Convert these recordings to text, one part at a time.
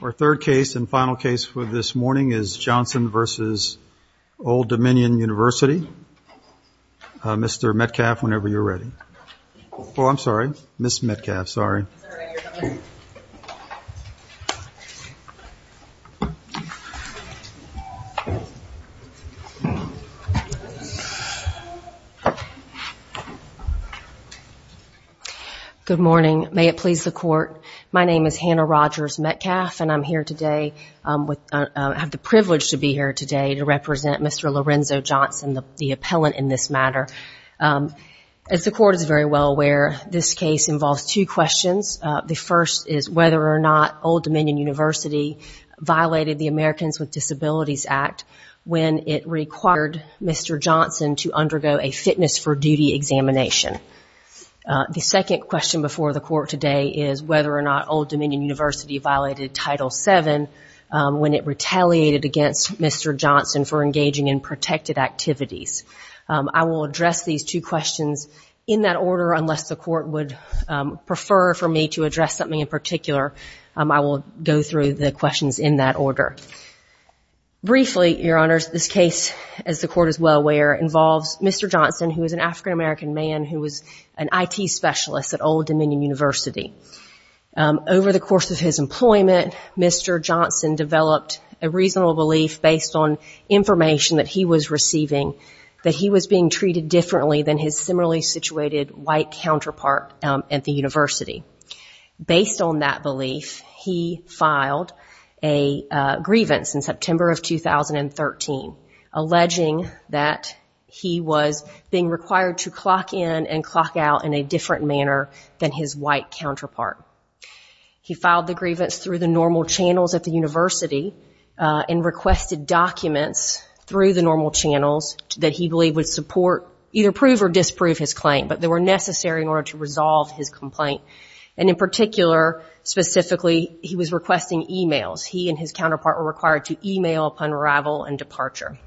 Our third case and final case for this morning is Johnson v. Old Dominion University. Mr. Metcalf, whenever you're ready. Oh, I'm sorry, Ms. Metcalf, sorry. Good morning. May it please the court, my name is Hannah Rogers Metcalf and I'm here today with, I have the privilege to be here today to represent Mr. Lorenzo Johnson, the first is whether or not Old Dominion University violated the Americans with Disabilities Act when it required Mr. Johnson to undergo a fitness for duty examination. The second question before the court today is whether or not Old Dominion University violated Title VII when it retaliated against Mr. Johnson for engaging in protected activities. I will address these two questions in that order unless the court would prefer for me to address something in particular. I will go through the questions in that order. Briefly, Your Honors, this case, as the court is well aware, involves Mr. Johnson who is an African American man who was an IT specialist at Old Dominion University. Over the course of his employment, Mr. Johnson developed a reasonable belief based on information that he was receiving that he was being treated differently than his similarly situated white counterpart at the university. Based on that belief, he filed a grievance in September of 2013 alleging that he was being required to clock in and clock out in a different manner than his white counterpart. He filed the grievance through the normal channels at the university and requested documents through the normal channels that he believed would support, either prove or disprove his claim, but they were necessary in order to resolve his complaint. In particular, specifically, he was requesting e-mails. He and his counterpart were required to e-mail upon arrival and departure.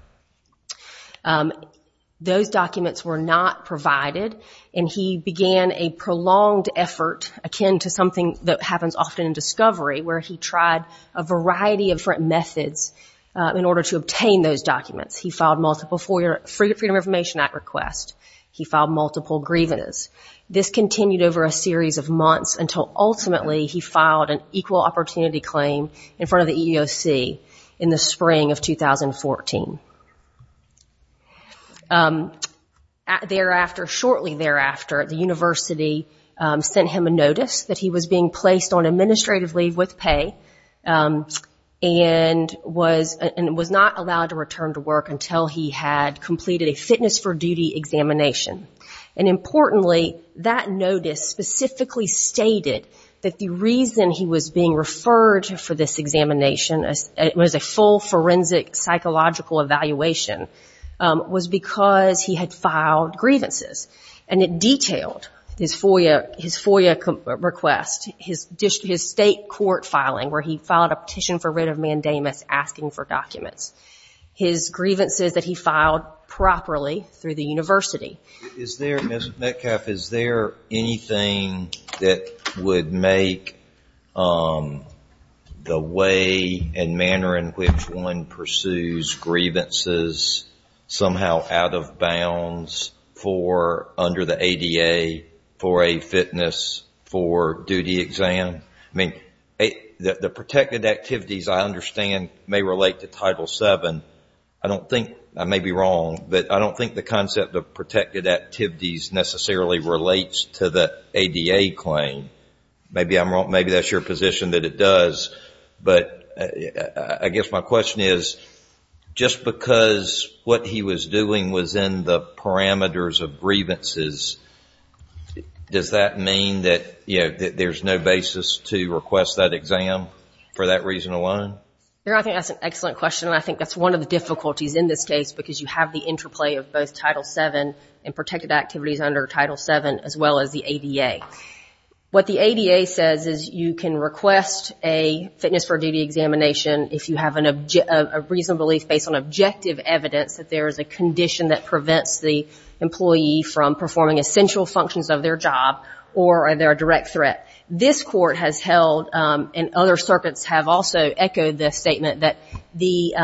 Those documents were not provided and he began a prolonged effort akin to something that happens often in discovery where he tried a variety of different methods in order to obtain those documents. He filed multiple Freedom of Information Act requests. He filed multiple grievances. This continued over a series of months until ultimately he filed an equal opportunity claim in front of the EEOC in the spring of 2014. Shortly thereafter, the university sent him a notice that he was being placed on administrative leave with pay and was not allowed to return to work until he had completed a fitness for duty examination. Importantly, that notice specifically stated that the reason he was being referred for this examination, it was a full forensic psychological evaluation, was because he had filed grievances. It detailed his FOIA request, his state FOIA request, state court filing where he filed a petition for writ of mandamus asking for documents. His grievances that he filed properly through the university. Is there, Ms. Metcalf, is there anything that would make the way and manner in which one pursues grievances somehow out of bounds for under the ADA for a fitness for duty exam? I mean, the protected activities I understand may relate to Title VII. I don't think, I may be wrong, but I don't think the concept of protected activities necessarily relates to the ADA claim. Maybe I'm wrong, maybe that's your position that it does, but I guess my question is, just because what he was doing was in the parameters of grievances, does that mean that there's no basis to request that exam for that reason alone? I think that's an excellent question. I think that's one of the difficulties in this case because you have the interplay of both Title VII and protected activities under Title VII as well as the ADA. What the ADA says is you can request a fitness for duty examination if you have a reasonable, based on objective evidence that there is a condition that prevents the employee from performing essential functions of their job or they're a direct threat. This court has held, and other circuits have also echoed this statement, that the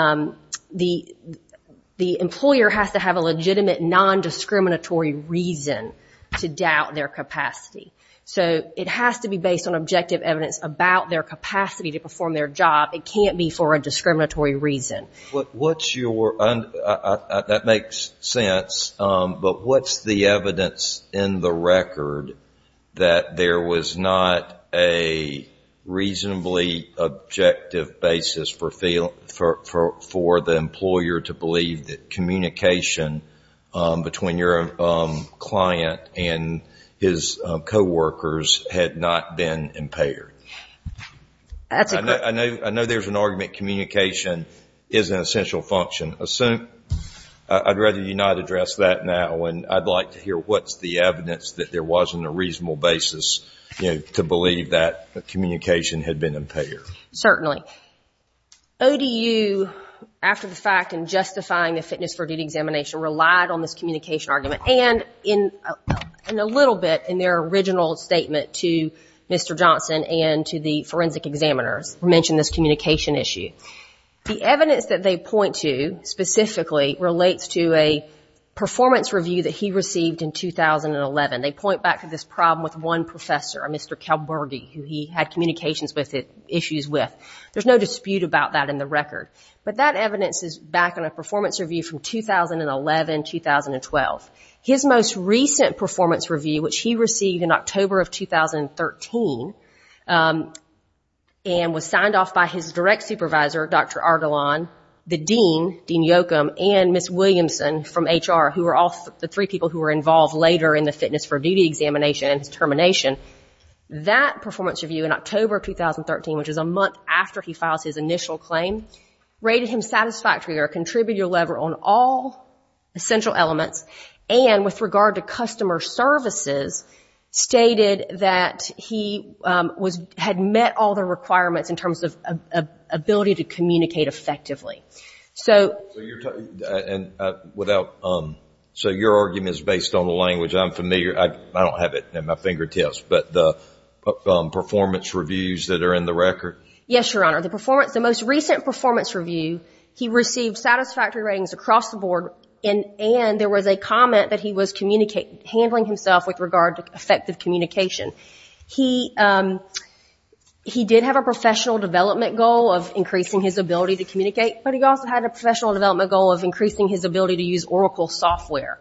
employer has to have a legitimate non-discriminatory reason to doubt their capacity. So it has to be based on objective evidence about their capacity to perform their job. It can't be for a discriminatory reason. That makes sense, but what's the evidence in the record that there was not a reasonably objective basis for the employer to believe that communication between your client and his co-workers had not been impaired? I know there's an argument communication is an essential function. I'd rather you not address that now. I'd like to hear what's the evidence that there wasn't a reasonable basis to believe that communication had been impaired. Certainly. ODU, after the fact, in justifying the fitness for duty examination, relied on this communication argument and in a little bit in their original statement to Mr. Johnson and to the forensic examiners, mentioned this communication issue. The evidence that they point to specifically relates to a performance review that he received in 2011. They point back to this problem with one professor, Mr. Kalbergi, who he had communications issues with. There's no dispute about that in the record. But that evidence is back in a performance review from 2011-2012. His most recent performance review, which he received in October of 2013, and was signed off by his direct supervisor, Dr. Ardalan, the dean, Dean Yoakum, and Ms. Williamson from HR, who were all the three people who were involved later in the fitness for duty examination and his termination. That performance review in October of 2013, which is a month after he files his initial claim, rated him satisfactory or a contributor level on all essential elements. And with regard to customer services, stated that he had met all the requirements in terms of ability to communicate effectively. So your argument is based on the language I'm familiar, I don't have it in my fingertips, but the performance reviews that are in the record? Yes, Your Honor. The performance, the most recent performance review, he received satisfactory ratings across the board and there was a comment that he was handling himself with regard to effective communication. He did have a professional development goal of increasing his ability to communicate, but he also had a professional development goal of increasing his ability to use Oracle software.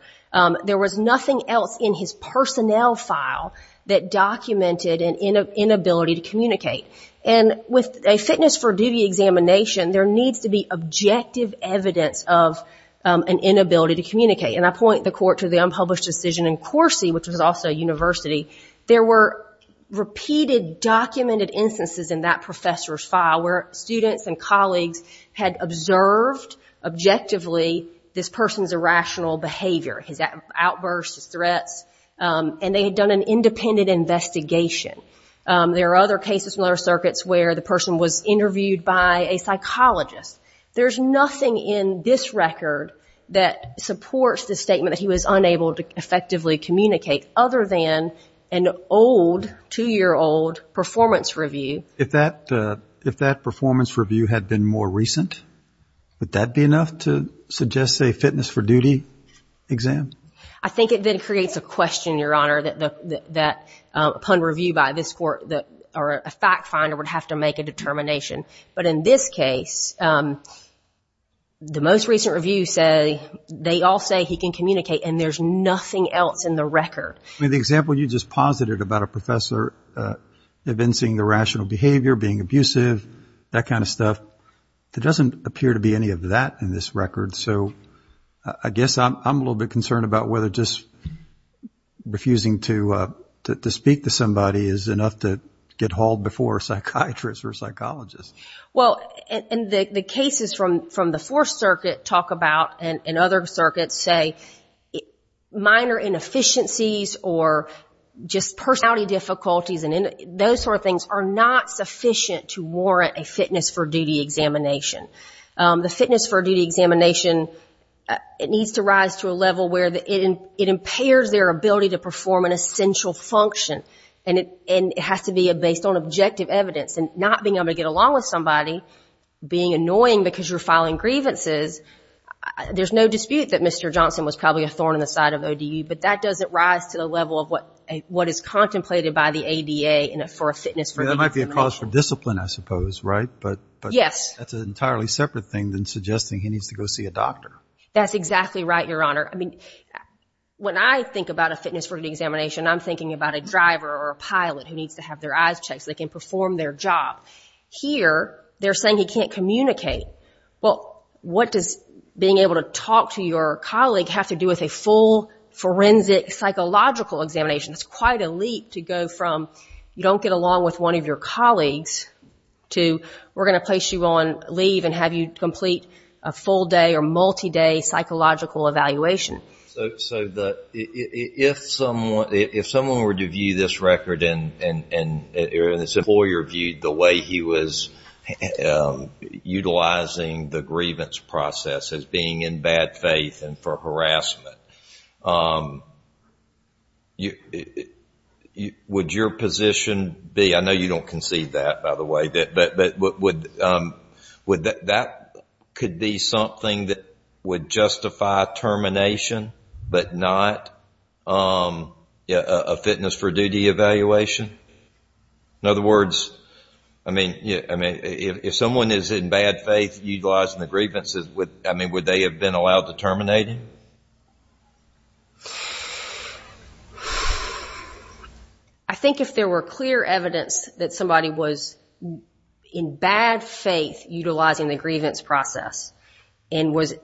There was nothing else in his personnel file that documented an inability to communicate. And with a fitness for duty examination, there needs to be objective evidence of an inability to communicate. And I point the court to the unpublished decision in Corsi, which was also a university, there were repeated documented instances in that professor's file where students and colleagues had observed objectively this person's irrational behavior, his outbursts, his threats, and they had done an independent investigation. There are other cases in other circuits where the person was interviewed by a psychologist. There's nothing in this record that supports the statement that he was unable to effectively communicate other than an old, two-year-old performance review. If that performance review had been more recent, would that be enough to suggest a fitness for duty exam? I think it then creates a question, Your Honor, that upon review by this court or a fact finder would have to make a determination. But in this case, the most recent review say they all say he can communicate, and there's nothing else in the record. I mean, the example you just posited about a professor evincing irrational behavior, being abusive, that kind of stuff, there doesn't appear to be any of that in this record. So I guess I'm a little bit concerned about whether just refusing to speak to somebody is enough to get hauled before a psychiatrist or psychologist. Well, and the cases from the Fourth Circuit talk about, and other circuits say, minor inefficiencies or just personality difficulties and those sort of things are not sufficient to warrant a fitness for duty examination. The fitness for duty examination, it needs to rise to a level where it impairs their ability to perform an essential function, and it has to be based on objective evidence. And not being able to get along with somebody, being annoying because you're filing grievances, there's no dispute that Mr. Johnson was probably a thorn in the side of O.D.U., but that doesn't rise to the level of what is contemplated by the ADA for a fitness for duty examination. That might be a cause for discipline, I suppose, right? But that's an entirely separate thing than suggesting he needs to go see a doctor. That's exactly right, Your Honor. When I think about a fitness for duty examination, I'm thinking about a driver or a pilot who needs to have their eyes checked so they can perform their job. Here, they're saying he can't communicate. Well, what does being able to talk to your colleague have to do with a full forensic psychological examination? It's quite a leap to go from, you don't get along with one of your colleagues, to we're going to complete a full-day or multi-day psychological evaluation. So, if someone were to view this record, and this employer viewed the way he was utilizing the grievance process as being in bad faith and for harassment, would your position be – I know you don't concede that, by the way – that that could be something that would justify termination, but not a fitness for duty evaluation? In other words, if someone is in bad faith utilizing the grievances, would they have been allowed to terminate him? I think if there were clear evidence that somebody was in bad faith utilizing the grievance process and was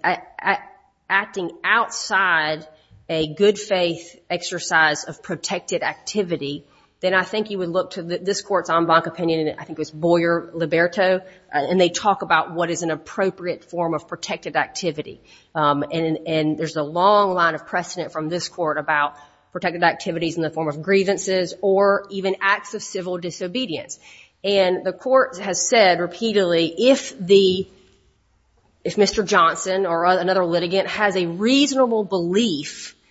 acting outside a good faith exercise of protected activity, then I think you would look to this court's en banc opinion, and I think it was Boyer-Liberto, and they talk about what is an appropriate form of protected activity. And there's a long line of precedent from this court about protected activities in the form of grievances or even acts of civil disobedience. And the court has said repeatedly, if Mr. Johnson or another litigant has a reasonable belief –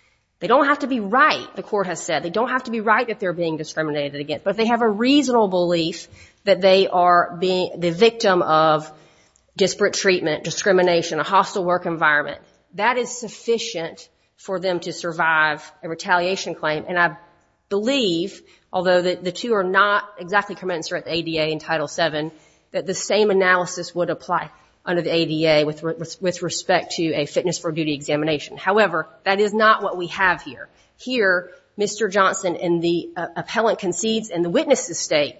they don't have to be right, the court has said, they don't have to be right if they're being discriminated against – but if they have a reasonable belief that they are the victim of disparate treatment, discrimination, a hostile work environment, that is sufficient for them to survive a retaliation claim. And I believe, although the two are not exactly commensurate with the ADA in Title VII, that the same analysis would apply under the ADA with respect to a fitness for duty examination. However, that is not what we have here. Here, Mr. Johnson and the appellant concedes in the witness' estate,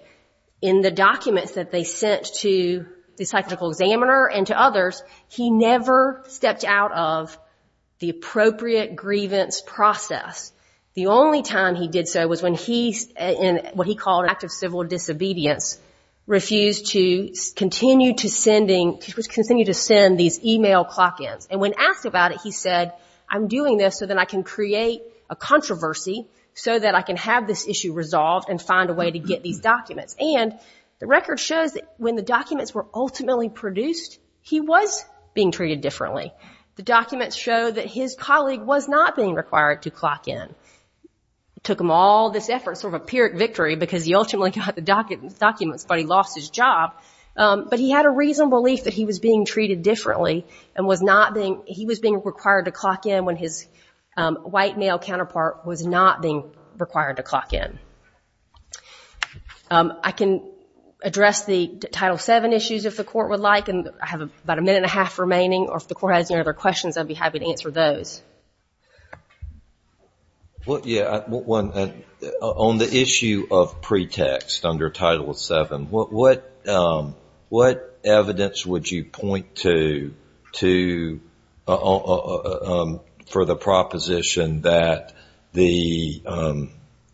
in the documents that they sent to the psychological examiner and to others, he never stepped out of the appropriate grievance process. The only time he did so was when he, in what he called an act of civil disobedience, refused to continue to send these email clock ins. And when asked about it, he said, I'm doing this so that I can create a controversy so that I can have this issue resolved and find a way to get these documents. And the record shows that when the documents were ultimately produced, he was being treated differently. The documents show that his colleague was not being required to clock in. It took him all this effort, sort of a pyrrhic victory, because he ultimately got the documents, but he lost his job, but he had a reasonable belief that he was being treated differently and was not being, he was being required to clock in when his white male counterpart was not being required to clock in. I can address the Title VII issues if the court would like, and I have about a minute and a half remaining, or if the court has any other questions, I'd be happy to answer those. Well, yeah, on the issue of pretext under Title VII, what evidence would you point to to, for the proposition that the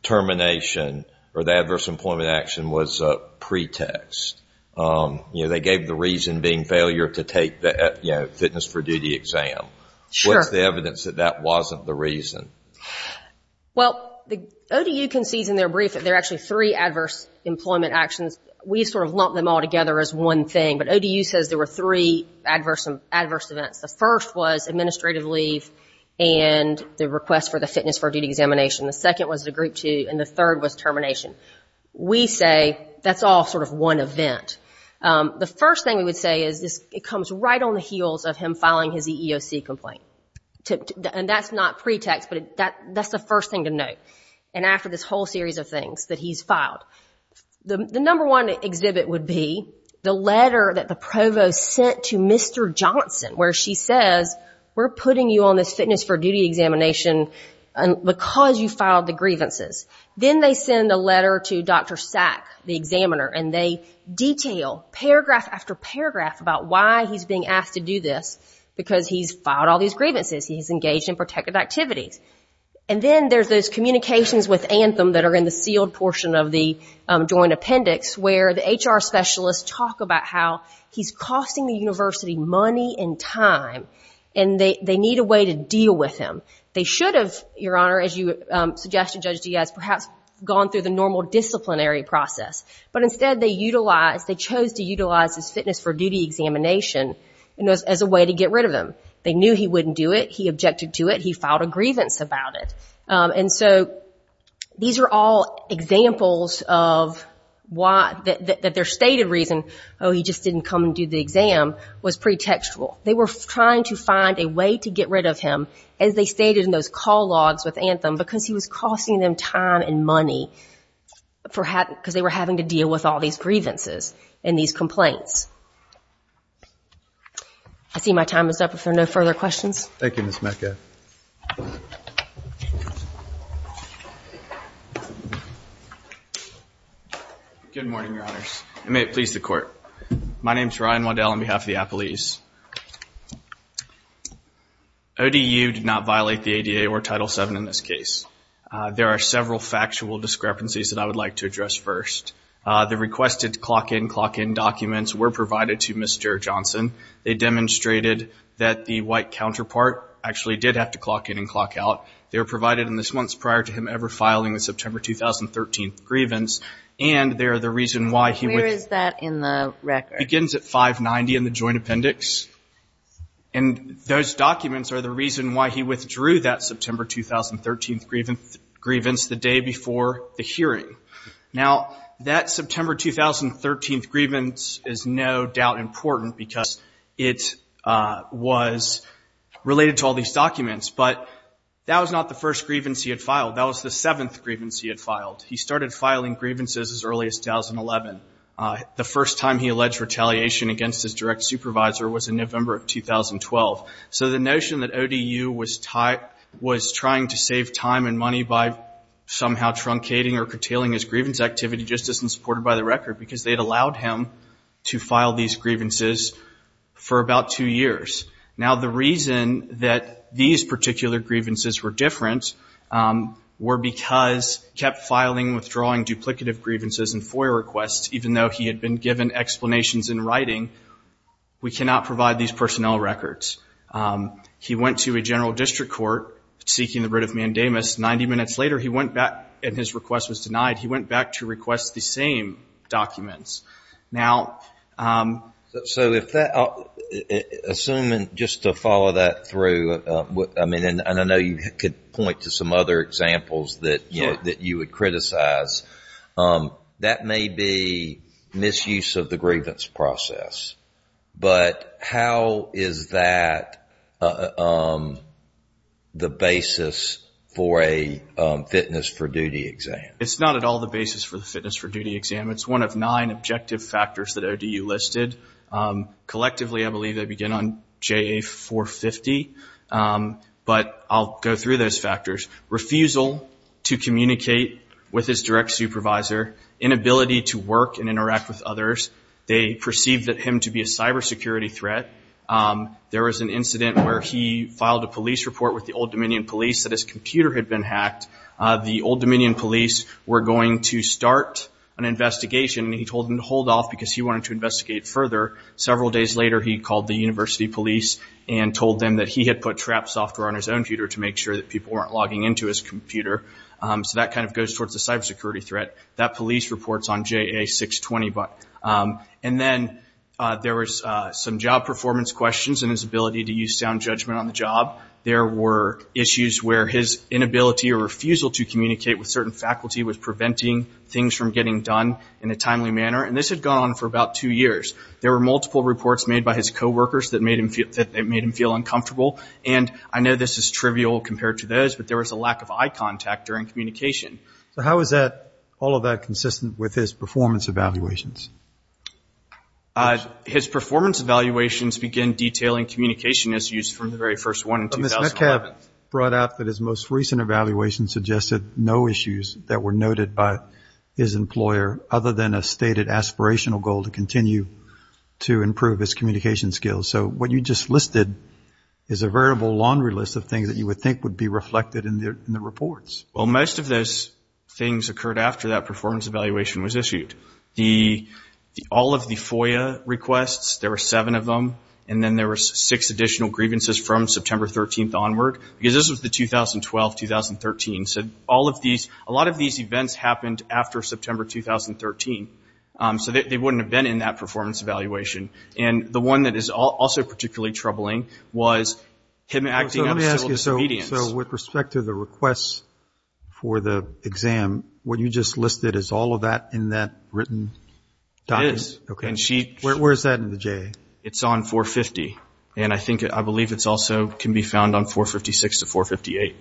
termination or the adverse employment action was a pretext? You know, they gave the reason being failure to take the, you know, fitness for duty exam. What's the evidence that that wasn't the reason? Well, the ODU concedes in their brief that there are actually three adverse employment actions. We sort of lump them all together as one thing, but ODU says there were three adverse events. The first was administrative leave and the request for the fitness for duty examination. The second was the group two, and the third was termination. We say that's all sort of one event. The first thing we would say is it comes right on the heels of him filing his EEOC complaint, and that's not pretext, but that's the first thing to note, and after this whole series of things that he's filed. The number one exhibit would be the letter that the provost sent to Mr. Johnson, where she says, we're putting you on this fitness for duty examination because you filed the grievances. Then they send a letter to Dr. Sack, the examiner, and they detail paragraph after paragraph about why he's being asked to do this, because he's filed all these grievances, he's engaged in protective activities. Then there's those communications with Anthem that are in the sealed portion of the joint appendix where the HR specialists talk about how he's costing the university money and time, and they need a way to deal with him. They should have, Your Honor, as you suggested, Judge Diaz, perhaps gone through the normal disciplinary process, but instead they utilized, they chose to utilize his fitness for duty examination as a way to get rid of him. They knew he wouldn't do it. He objected to it. He filed a grievance about it. These are all examples of why, that their stated reason, oh, he just didn't come and do the exam, was pretextual. They were trying to find a way to get rid of him, as they stated in those call logs with Anthem, because he was costing them time and money, because they were having to deal with all these grievances and these complaints. I see my time is up. If there are no further questions. Thank you, Ms. Metcalf. Good morning, Your Honors. And may it please the Court. My name is Ryan Waddell on behalf of the Appalese. ODU did not violate the ADA or Title VII in this case. There are several factual discrepancies that I would like to address first. The requested clock-in, clock-in documents were provided to Mr. Johnson. They demonstrated that the white counterpart actually did have to clock-in and clock-out. They were provided in the months prior to him ever filing the September 2013 grievance. And they are the reason why he withdrew. Where is that in the record? It begins at 590 in the joint appendix. And those documents are the reason why he withdrew that September 2013 grievance, the day before the hearing. Now, that September 2013 grievance is no doubt important because it was related to all these documents. But that was not the first grievance he had filed. That was the seventh grievance he had filed. He started filing grievances as early as 2011. The first time he alleged retaliation against his direct supervisor was in November of 2012. Now, the reason that these particular grievances were different were because he kept filing, withdrawing duplicative grievances and FOIA requests even though he had been given explanations in writing. We cannot provide these personnel records. He went to a general district court seeking the writ of mandamus. seeking the writ of mandamus. And his request was denied. He went back to request the same documents. Assuming, just to follow that through, and I know you could point to some other examples that you would criticize, that may be misuse of the grievance process. But how is that the basis for a fitness for duty exam? It's not at all the basis for the fitness for duty exam. It's one of nine objective factors that ODU listed. Collectively, I believe they begin on JA 450. But I'll go through those factors. Refusal to communicate with his direct supervisor. Inability to work and interact with others. They perceived him to be a cyber security threat. There was an incident where he filed a police report with the Old Dominion police that his computer had been hacked. The Old Dominion police were going to start an investigation. He told them to hold off because he wanted to investigate further. Several days later, he called the university police and told them that he had put trap software on his own computer to make sure that people weren't logging into his computer. So that kind of goes towards a cyber security threat. That police report is on JA 620. And then there was some job performance questions and his ability to use sound judgment on the job. There were issues where his inability or refusal to communicate with certain faculty was preventing things from getting done in a timely manner. And this had gone on for about two years. There were multiple reports made by his co-workers that made him feel uncomfortable. And I know this is trivial compared to those, but there was a lack of eye contact during communication. So how is all of that consistent with his performance evaluations? His performance evaluations begin detailing communication issues from the very first one in 2011. But Ms. Metcalf brought out that his most recent evaluation suggested no issues that were noted by his employer other than a stated aspirational goal to continue to improve his communication skills. So what you just listed is a variable laundry list of things that you would think would be reflected in the reports. Well, most of those things occurred after that performance evaluation was issued. All of the FOIA requests, there were seven of them. And then there were six additional grievances from September 13th onward. Because this was the 2012-2013. So a lot of these events happened after September 2013. So they wouldn't have been in that performance evaluation. And the one that is also particularly troubling was him acting out of still disobedience. So with respect to the requests for the exam, what you just listed is all of that in that written document? It is. Where is that in the JA? It's on 450. And I believe it also can be found on 456 to 458.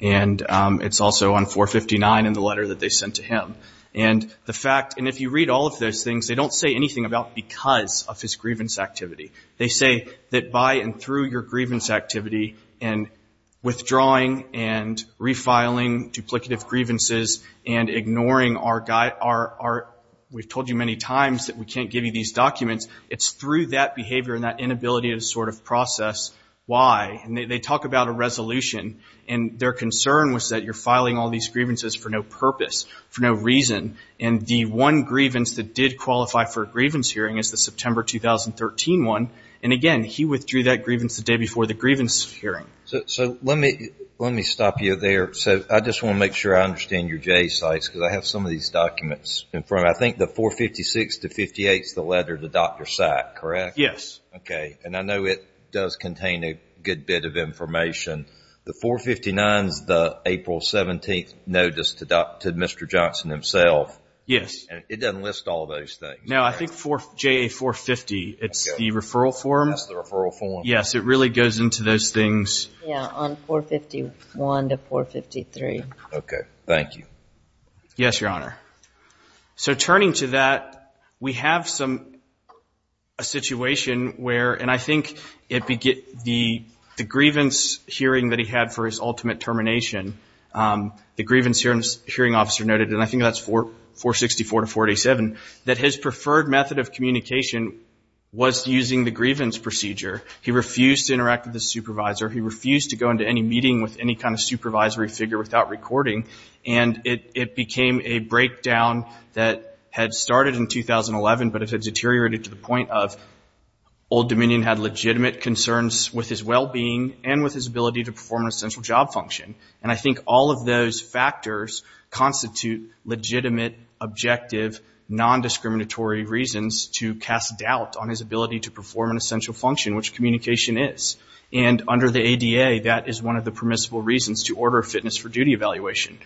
And it's also on 459 in the letter that they sent to him. And if you read all of those things, they don't say anything about because of his grievance activity. They say that by and through your grievance activity and withdrawing and refiling duplicative grievances and ignoring our guide, our, we've told you many times that we can't give you these documents. It's through that behavior and that inability to sort of process why. And they talk about a resolution. And their concern was that you're filing all these grievances for no purpose, for no reason. And the one grievance that did qualify for a grievance hearing is the September 2013 one. And again, he withdrew that grievance the day before the grievance hearing. So let me stop you there. So I just want to make sure I understand your JA sites because I have some of these documents. And from I think the 456 to 58 is the letter to Dr. Sack, correct? Yes. Okay. And I know it does contain a good bit of information. The 459 is the April 17th notice to Mr. Johnson himself. Yes. And it doesn't list all those things. No, I think JA 450. It's the referral form. That's the referral form. Yes, it really goes into those things. Yeah, on 451 to 453. Okay. Thank you. Yes, Your Honor. So turning to that, we have a situation where, and I think the grievance hearing that he had for his ultimate termination, the grievance hearing officer noted, and I think that's 464 to 487, that his preferred method of communication was using the grievance procedure. He refused to interact with the supervisor. He refused to go into any meeting with any kind of supervisory figure without recording. And it became a breakdown that had started in 2011, but it had deteriorated to the point of Old Dominion had legitimate concerns with his well-being and with his ability to perform an essential job function. And I think all of those factors constitute legitimate, objective, nondiscriminatory reasons to cast doubt on his ability to perform an essential function, which communication is. And under the ADA, that is one of the permissible reasons to order a fitness for duty evaluation.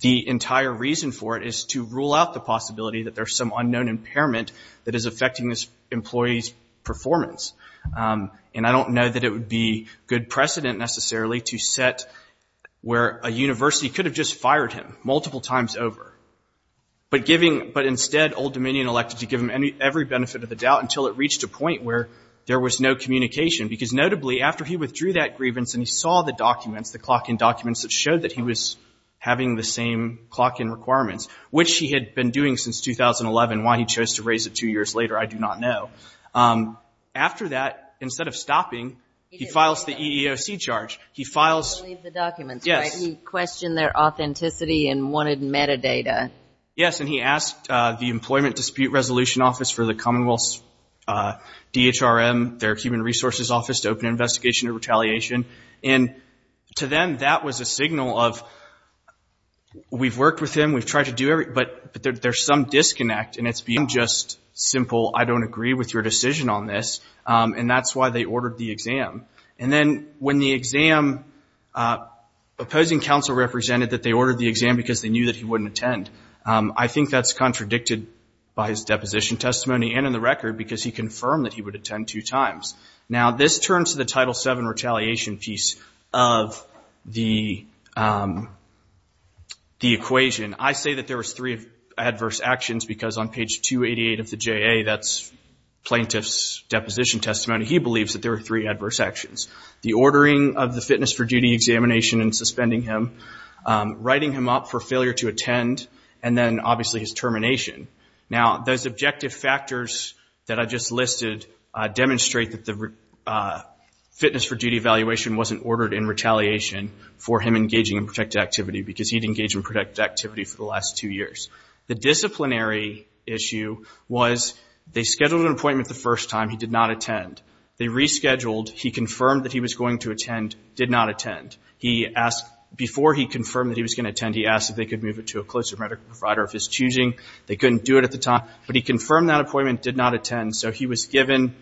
The entire reason for it is to rule out the possibility that there's some unknown impairment that is affecting this employee's performance. And I don't know that it would be good precedent, necessarily, to set where a university could have just fired him multiple times over, but instead Old Dominion elected to give him every benefit of the doubt until it reached a point where there was no communication. Because notably, after he withdrew that grievance and he saw the documents, the clock-in documents that showed that he was having the same clock-in requirements, which he had been doing since 2011, why he chose to raise it two years later, I do not know. After that, instead of stopping, he files the EEOC charge. He files... He doesn't leave the documents, right? Yes. He questioned their authenticity and wanted metadata. Yes, and he asked the Employment Dispute Resolution Office for the Commonwealth's DHRM, their Human Resources Office, to open an investigation of retaliation. And to them, that was a signal of, we've worked with him, we've tried to do everything, but there's some disconnect, and it's been just simple, I don't agree with your decision on this, and that's why they ordered the exam. And then when the exam... Opposing counsel represented that they ordered the exam because they knew that he wouldn't attend. I think that's contradicted by his deposition testimony and in the record because he confirmed that he would attend two times. Now, this turns to the Title VII retaliation piece of the equation. I say that there was three adverse actions because on page 288 of the JA, that's plaintiff's deposition testimony, he believes that there were three adverse actions. The ordering of the fitness for duty examination and suspending him, writing him up for failure to attend, and then obviously his termination. Now, those objective factors that I just listed demonstrate that the fitness for duty evaluation wasn't ordered in retaliation for him engaging in protected activity because he'd engaged in protected activity for the last two years. The disciplinary issue was they scheduled an appointment the first time. He did not attend. They rescheduled. He confirmed that he was going to attend, did not attend. Before he confirmed that he was going to attend, he asked if they could move it to a closer medical provider of his choosing. They couldn't do it at the time, but he confirmed that appointment, did not attend, so he was given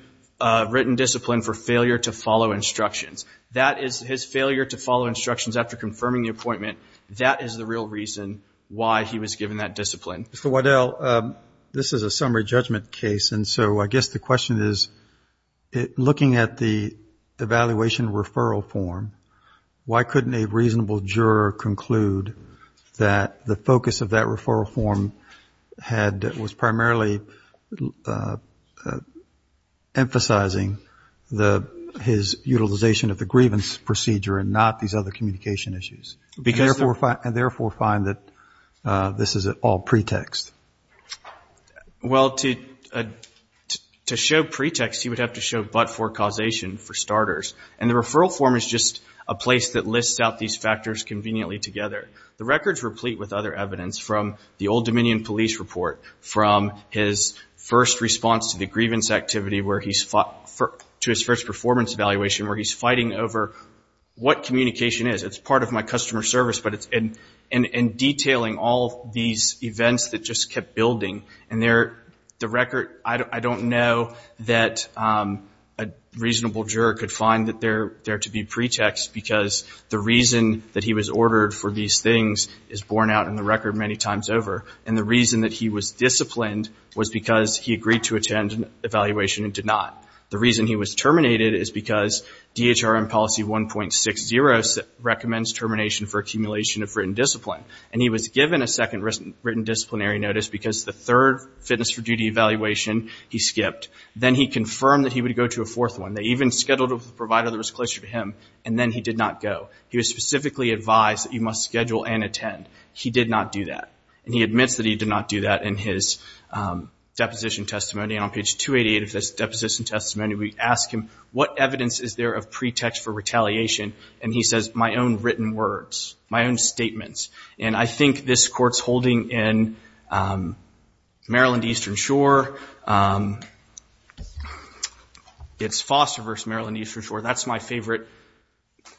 written discipline That is his failure to follow instructions after confirming the appointment. That is the real reason why he was given that discipline. Mr. Waddell, this is a summary judgment case, and so I guess the question is, looking at the evaluation referral form, why couldn't a reasonable juror conclude that the focus of that referral form was primarily emphasizing his utilization of the grievance procedure and not these other communication issues? And therefore find that this is all pretext. Well, to show pretext, you would have to show but-for causation for starters, and the referral form is just a place that lists out these factors conveniently together. The records replete with other evidence from the Old Dominion Police Report, from his first response to the grievance activity to his first performance evaluation, where he's fighting over what communication is. That's part of my customer service, but it's in detailing all these events that just kept building, and the record, I don't know that a reasonable juror could find that there to be pretext, because the reason that he was ordered for these things is borne out in the record many times over, and the reason that he was disciplined was because he agreed to attend an evaluation and did not. The reason he was terminated is because DHRM policy 1.60 recommends termination for accumulation of written discipline, and he was given a second written disciplinary notice because the third fitness for duty evaluation he skipped. Then he confirmed that he would go to a fourth one. They even scheduled a provider that was closer to him, and then he did not go. He was specifically advised that you must schedule and attend. He did not do that, and he admits that he did not do that in his deposition testimony. On page 288 of his deposition testimony, we ask him, what evidence is there of pretext for retaliation? He says, my own written words, my own statements. I think this court's holding in Maryland Eastern Shore, it's Foster versus Maryland Eastern Shore, that's my favorite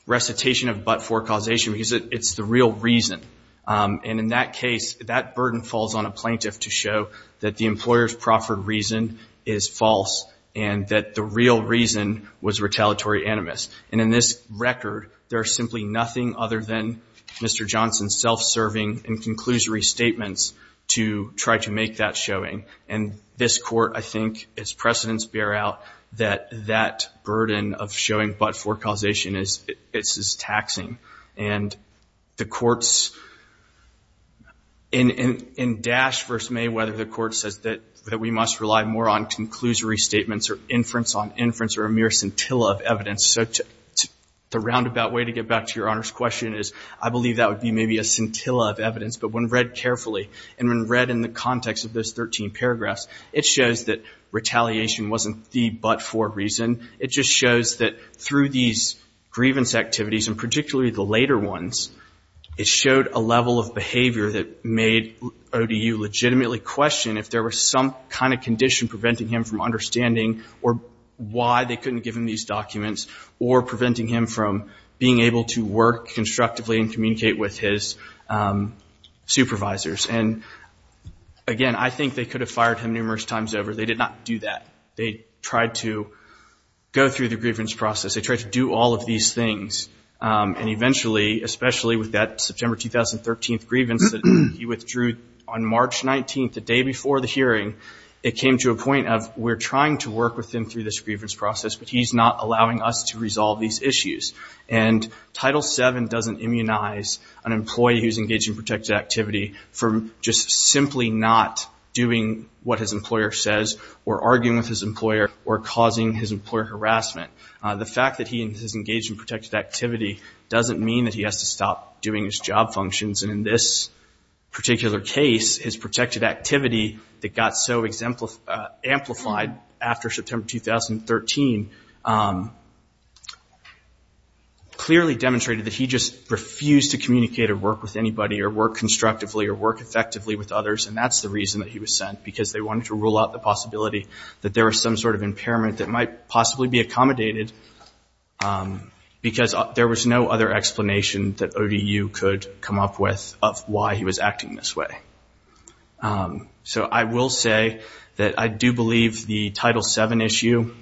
recitation of but-for causation, because it's the real reason. In that case, that burden falls on a plaintiff to show that the employer's proffered reason is false and that the real reason was retaliatory animus. In this record, there is simply nothing other than Mr. Johnson's self-serving and conclusory statements to try to make that showing. This court, I think, its precedents bear out that that burden of showing but-for causation is taxing. And the courts in Dash versus Mayweather, the court says that we must rely more on conclusory statements or inference on inference or a mere scintilla of evidence. So the roundabout way to get back to Your Honor's question is, I believe that would be maybe a scintilla of evidence. But when read carefully and when read in the context of those 13 paragraphs, it shows that retaliation wasn't the but-for reason. It just shows that through these grievance activities, and particularly the later ones, it showed a level of behavior that made ODU legitimately question if there was some kind of condition preventing him from understanding or why they couldn't give him these documents or preventing him from being able to work constructively and communicate with his supervisors. And, again, I think they could have fired him numerous times over. They did not do that. They tried to go through the grievance process. They tried to do all of these things. And eventually, especially with that September 2013 grievance that he withdrew on March 19th, the day before the hearing, it came to a point of, we're trying to work with him through this grievance process, but he's not allowing us to resolve these issues. And Title VII doesn't immunize an employee who's engaged in protected activity from just simply not doing what his employer says or arguing with his employer or causing his employer harassment. The fact that he is engaged in protected activity doesn't mean that he has to stop doing his job functions. And in this particular case, his protected activity that got so amplified after September 2013 clearly demonstrated that he just refused to communicate or work with anybody or work constructively or work effectively with others. And that's the reason that he was sent, because they wanted to rule out the possibility that there was some sort of impairment that might possibly be accommodated, because there was no other explanation that ODU could come up with of why he was acting this way. So I will say that I do believe the Title VII issue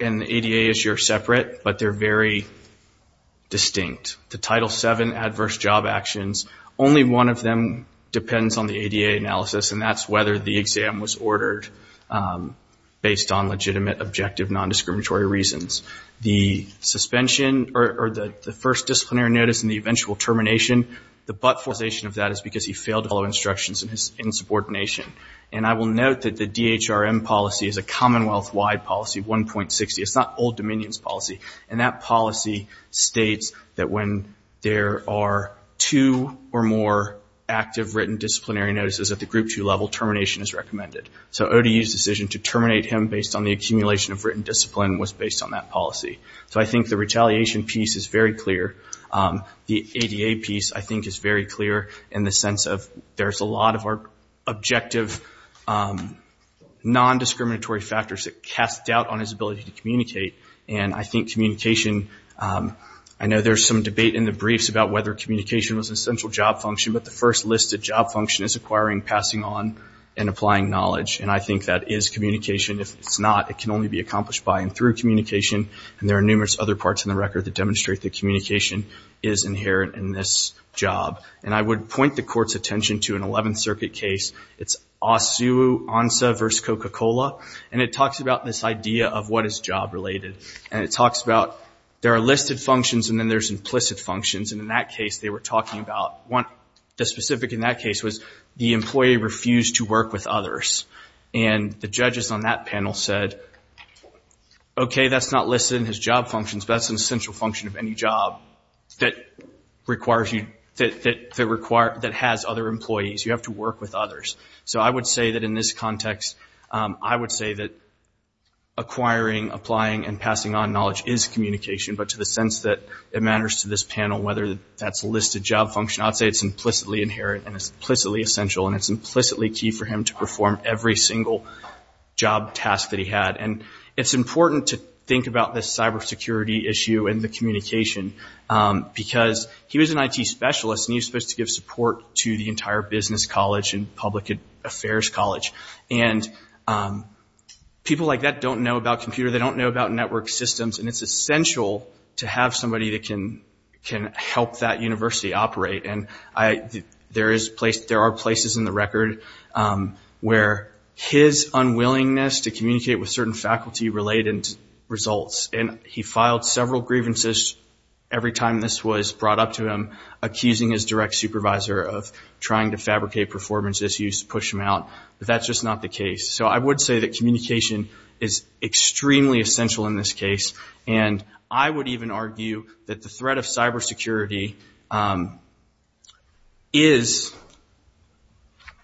and the ADA issue are separate, but they're very distinct. The Title VII adverse job actions, only one of them depends on the ADA analysis, and that's whether the exam was ordered based on legitimate, objective, nondiscriminatory reasons. The suspension or the first disciplinary notice and the eventual termination, the but-forization of that is because he failed to follow instructions and his insubordination. And I will note that the DHRM policy is a Commonwealth-wide policy, 1.60. It's not Old Dominion's policy. And that policy states that when there are two or more active written disciplinary notices, at the Group 2 level, termination is recommended. So ODU's decision to terminate him based on the accumulation of written discipline was based on that policy. So I think the retaliation piece is very clear. The ADA piece, I think, is very clear in the sense of there's a lot of our objective nondiscriminatory factors that cast doubt on his ability to communicate. And I think communication, I know there's some debate in the briefs about whether communication was an essential job function, but the first listed job function is acquiring, passing on, and applying knowledge. And I think that is communication. If it's not, it can only be accomplished by and through communication. And there are numerous other parts in the record that demonstrate that communication is inherent in this job. And I would point the Court's attention to an Eleventh Circuit case. It's Asu Ansa v. Coca-Cola. And it talks about this idea of what is job-related. And it talks about there are listed functions and then there's implicit functions. And in that case, they were talking about the specific in that case was the employee refused to work with others. And the judges on that panel said, okay, that's not listed in his job functions, but that's an essential function of any job that has other employees. You have to work with others. So I would say that in this context, I would say that acquiring, applying, and passing on knowledge is communication, but to the sense that it matters to this panel whether that's listed job function, I would say it's implicitly inherent and it's implicitly essential and it's implicitly key for him to perform every single job task that he had. And it's important to think about this cybersecurity issue and the communication because he was an IT specialist and he was supposed to give support to the entire business college and public affairs college. And people like that don't know about computer. They don't know about network systems. And it's essential to have somebody that can help that university operate. And there are places in the record where his unwillingness to communicate with certain faculty-related results, and he filed several grievances every time this was brought up to him, accusing his direct supervisor of trying to fabricate performance issues to push him out. But that's just not the case. So I would say that communication is extremely essential in this case. And I would even argue that the threat of cybersecurity is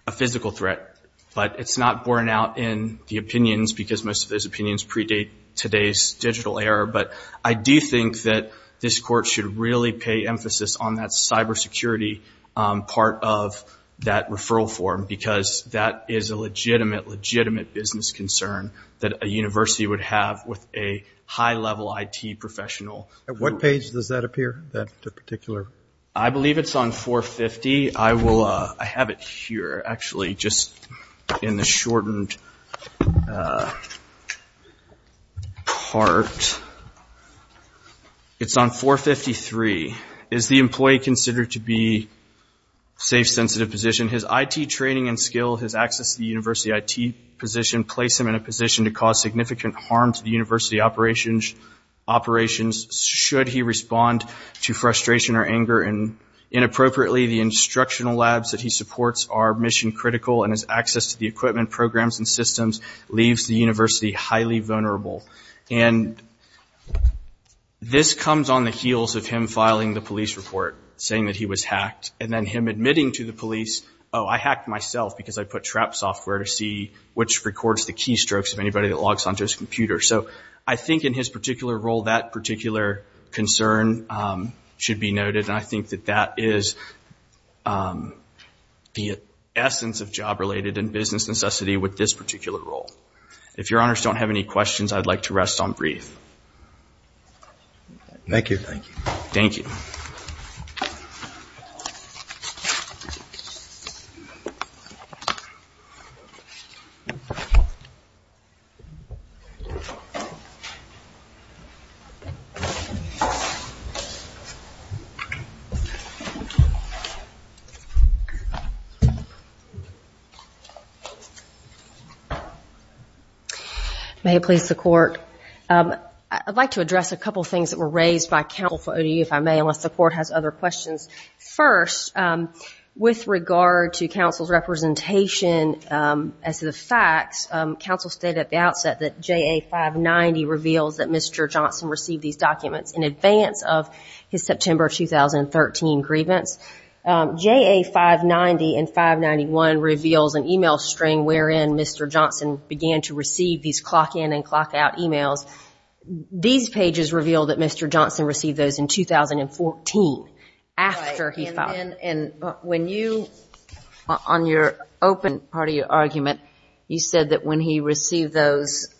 a physical threat, but it's not borne out in the opinions because most of those opinions predate today's digital era. But I do think that this court should really pay emphasis on that cybersecurity part of that referral form because that is a legitimate, legitimate business concern that a university would have with a high-level IT professional. At what page does that appear, that particular? I believe it's on 450. I have it here, actually, just in the shortened part. It's on 453. Is the employee considered to be safe, sensitive position? His IT training and skill, his access to the university IT position, place him in a position to cause significant harm to the university operations should he respond to frustration or anger. And inappropriately, the instructional labs that he supports are mission-critical, and his access to the equipment programs and systems leaves the university highly vulnerable. And this comes on the heels of him filing the police report, saying that he was hacked, and then him admitting to the police, oh, I hacked myself because I put trap software to see which records the keystrokes of anybody that logs onto his computer. So I think in his particular role, that particular concern should be noted, and I think that that is the essence of job-related and business necessity with this particular role. If Your Honors don't have any questions, I'd like to rest on brief. Thank you. Thank you. May it please the Court. I'd like to address a couple of things that were raised by counsel for ODU, if I may, unless the Court has other questions. First, with regard to counsel's representation as to the facts, counsel stated at the outset that JA 590 reveals that Mr. Johnson received these documents in advance of his September 2013 grievance. JA 590 and 591 reveals an e-mail string wherein Mr. Johnson began to receive these clock-in and clock-out e-mails. These pages reveal that Mr. Johnson received those in 2014 after he filed. And when you, on your open party argument, you said that when he received those,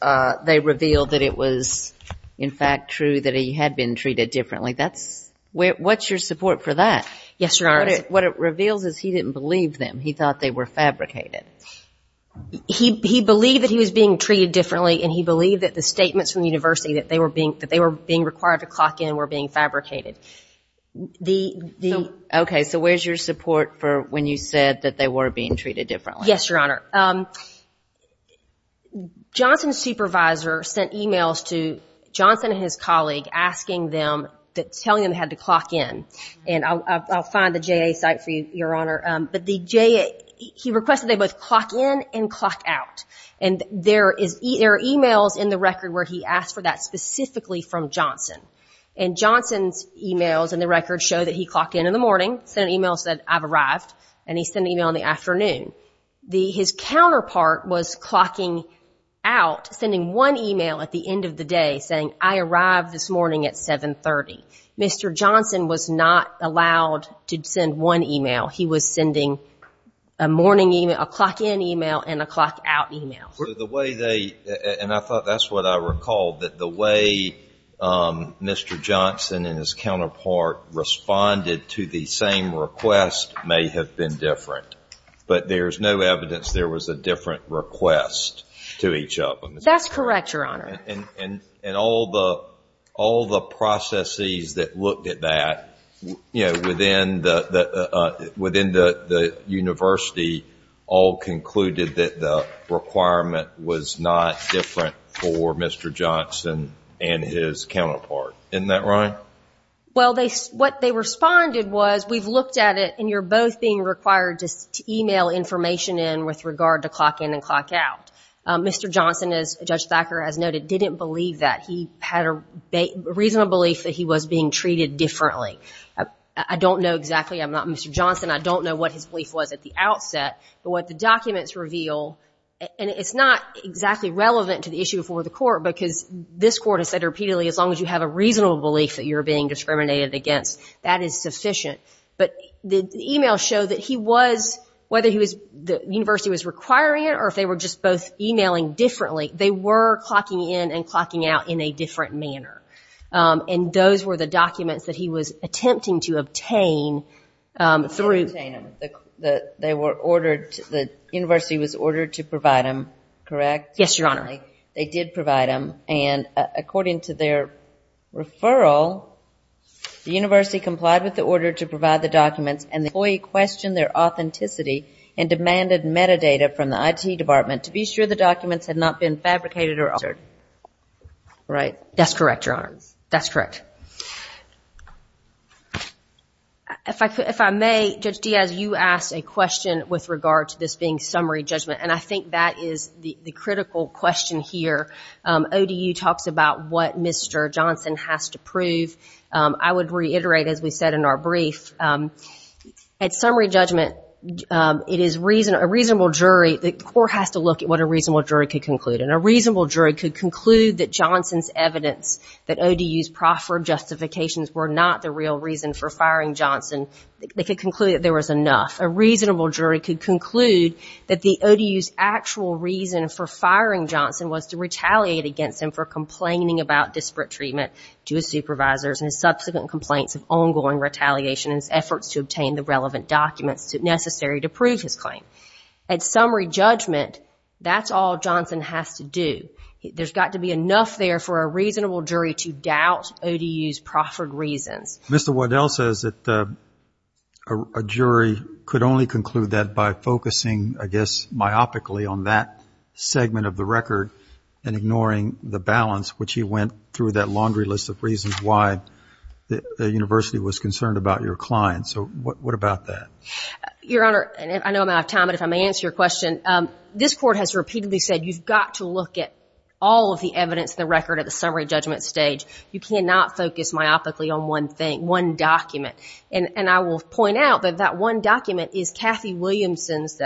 they revealed that it was, in fact, true that he had been treated differently. What's your support for that? Yes, Your Honors. What it reveals is he didn't believe them. He thought they were fabricated. He believed that he was being treated differently, and he believed that the statements from the university that they were being required to clock in were being fabricated. Okay. So where's your support for when you said that they were being treated differently? Yes, Your Honor. Johnson's supervisor sent e-mails to Johnson and his colleague asking them, telling them they had to clock in. And I'll find the JA site for you, Your Honor. But he requested they both clock in and clock out. And there are e-mails in the record where he asked for that specifically from Johnson. And Johnson's e-mails in the record show that he clocked in in the morning, sent an e-mail, said, I've arrived, and he sent an e-mail in the afternoon. His counterpart was clocking out, sending one e-mail at the end of the day, saying, I arrived this morning at 730. Mr. Johnson was not allowed to send one e-mail. He was sending a morning e-mail, a clock-in e-mail, and a clock-out e-mail. So the way they, and I thought that's what I recalled, that the way Mr. Johnson and his counterpart responded to the same request may have been different. But there's no evidence there was a different request to each of them. That's correct, Your Honor. And all the processes that looked at that, you know, within the university, all concluded that the requirement was not different for Mr. Johnson and his counterpart. Isn't that right? Well, what they responded was, we've looked at it, and you're both being required to e-mail information in with regard to clock in and clock out. Mr. Johnson, as Judge Thacker has noted, didn't believe that he had a reasonable belief that he was being treated differently. I don't know exactly. I'm not Mr. Johnson. I don't know what his belief was at the outset. But what the documents reveal, and it's not exactly relevant to the issue before the court, because this court has said repeatedly, as long as you have a reasonable belief that you're being discriminated against, that is sufficient. But the e-mails show that he was, whether the university was requiring it or if they were just both e-mailing differently, they were clocking in and clocking out in a different manner. And those were the documents that he was attempting to obtain through. They were ordered, the university was ordered to provide them, correct? Yes, Your Honor. And finally, they did provide them, and according to their referral, the university complied with the order to provide the documents, and the employee questioned their authenticity and demanded metadata from the IT department to be sure the documents had not been fabricated or altered. Right? That's correct, Your Honor. That's correct. If I may, Judge Diaz, you asked a question with regard to this being summary judgment, and I think that is the critical question here. ODU talks about what Mr. Johnson has to prove. I would reiterate, as we said in our brief, at summary judgment, it is a reasonable jury, the court has to look at what a reasonable jury could conclude, and a reasonable jury could conclude that Johnson's evidence, that ODU's proffered justifications were not the real reason for firing Johnson, they could conclude that there was enough. A reasonable jury could conclude that the ODU's actual reason for firing Johnson was to retaliate against him for complaining about disparate treatment to his supervisors and his subsequent complaints of ongoing retaliation and his efforts to obtain the relevant documents necessary to prove his claim. At summary judgment, that's all Johnson has to do. There's got to be enough there for a reasonable jury to doubt ODU's proffered reasons. Mr. Waddell says that a jury could only conclude that by focusing, I guess, myopically, on that segment of the record and ignoring the balance, which he went through that laundry list of reasons why the university was concerned about your client. So what about that? Your Honor, I know I'm out of time, but if I may answer your question, this Court has repeatedly said you've got to look at all of the evidence in the record at the summary judgment stage. You cannot focus myopically on one thing, one document. And I will point out that that one document is Kathy Williamson's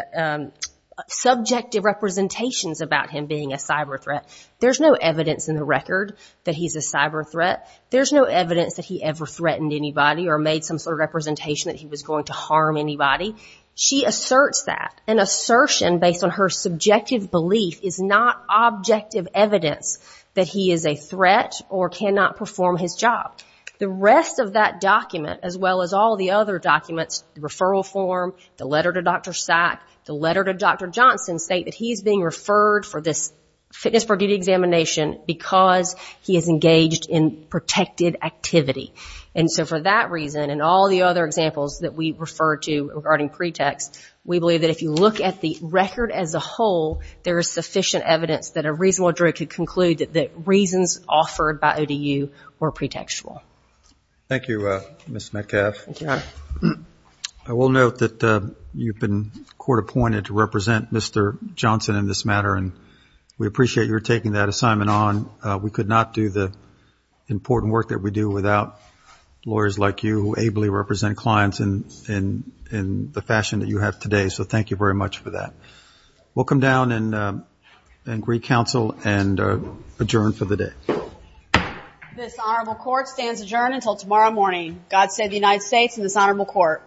subjective representations about him being a cyber threat. There's no evidence in the record that he's a cyber threat. There's no evidence that he ever threatened anybody or made some sort of representation that he was going to harm anybody. She asserts that. An assertion based on her subjective belief is not objective evidence that he is a threat or cannot perform his job. The rest of that document, as well as all the other documents, the referral form, the letter to Dr. Sack, the letter to Dr. Johnson, state that he's being referred for this fitness per duty examination because he is engaged in protected activity. And so for that reason and all the other examples that we refer to regarding pretext, we believe that if you look at the record as a whole, there is sufficient evidence that a reasonable jury could conclude that the reasons offered by ODU were pretextual. Thank you, Ms. Metcalf. Thank you. I will note that you've been court appointed to represent Mr. Johnson in this matter, and we appreciate your taking that assignment on. We could not do the important work that we do without lawyers like you who ably represent clients in the fashion that you have today, so thank you very much for that. We'll come down and re-counsel and adjourn for the day. This honorable court stands adjourned until tomorrow morning. God save the United States and this honorable court.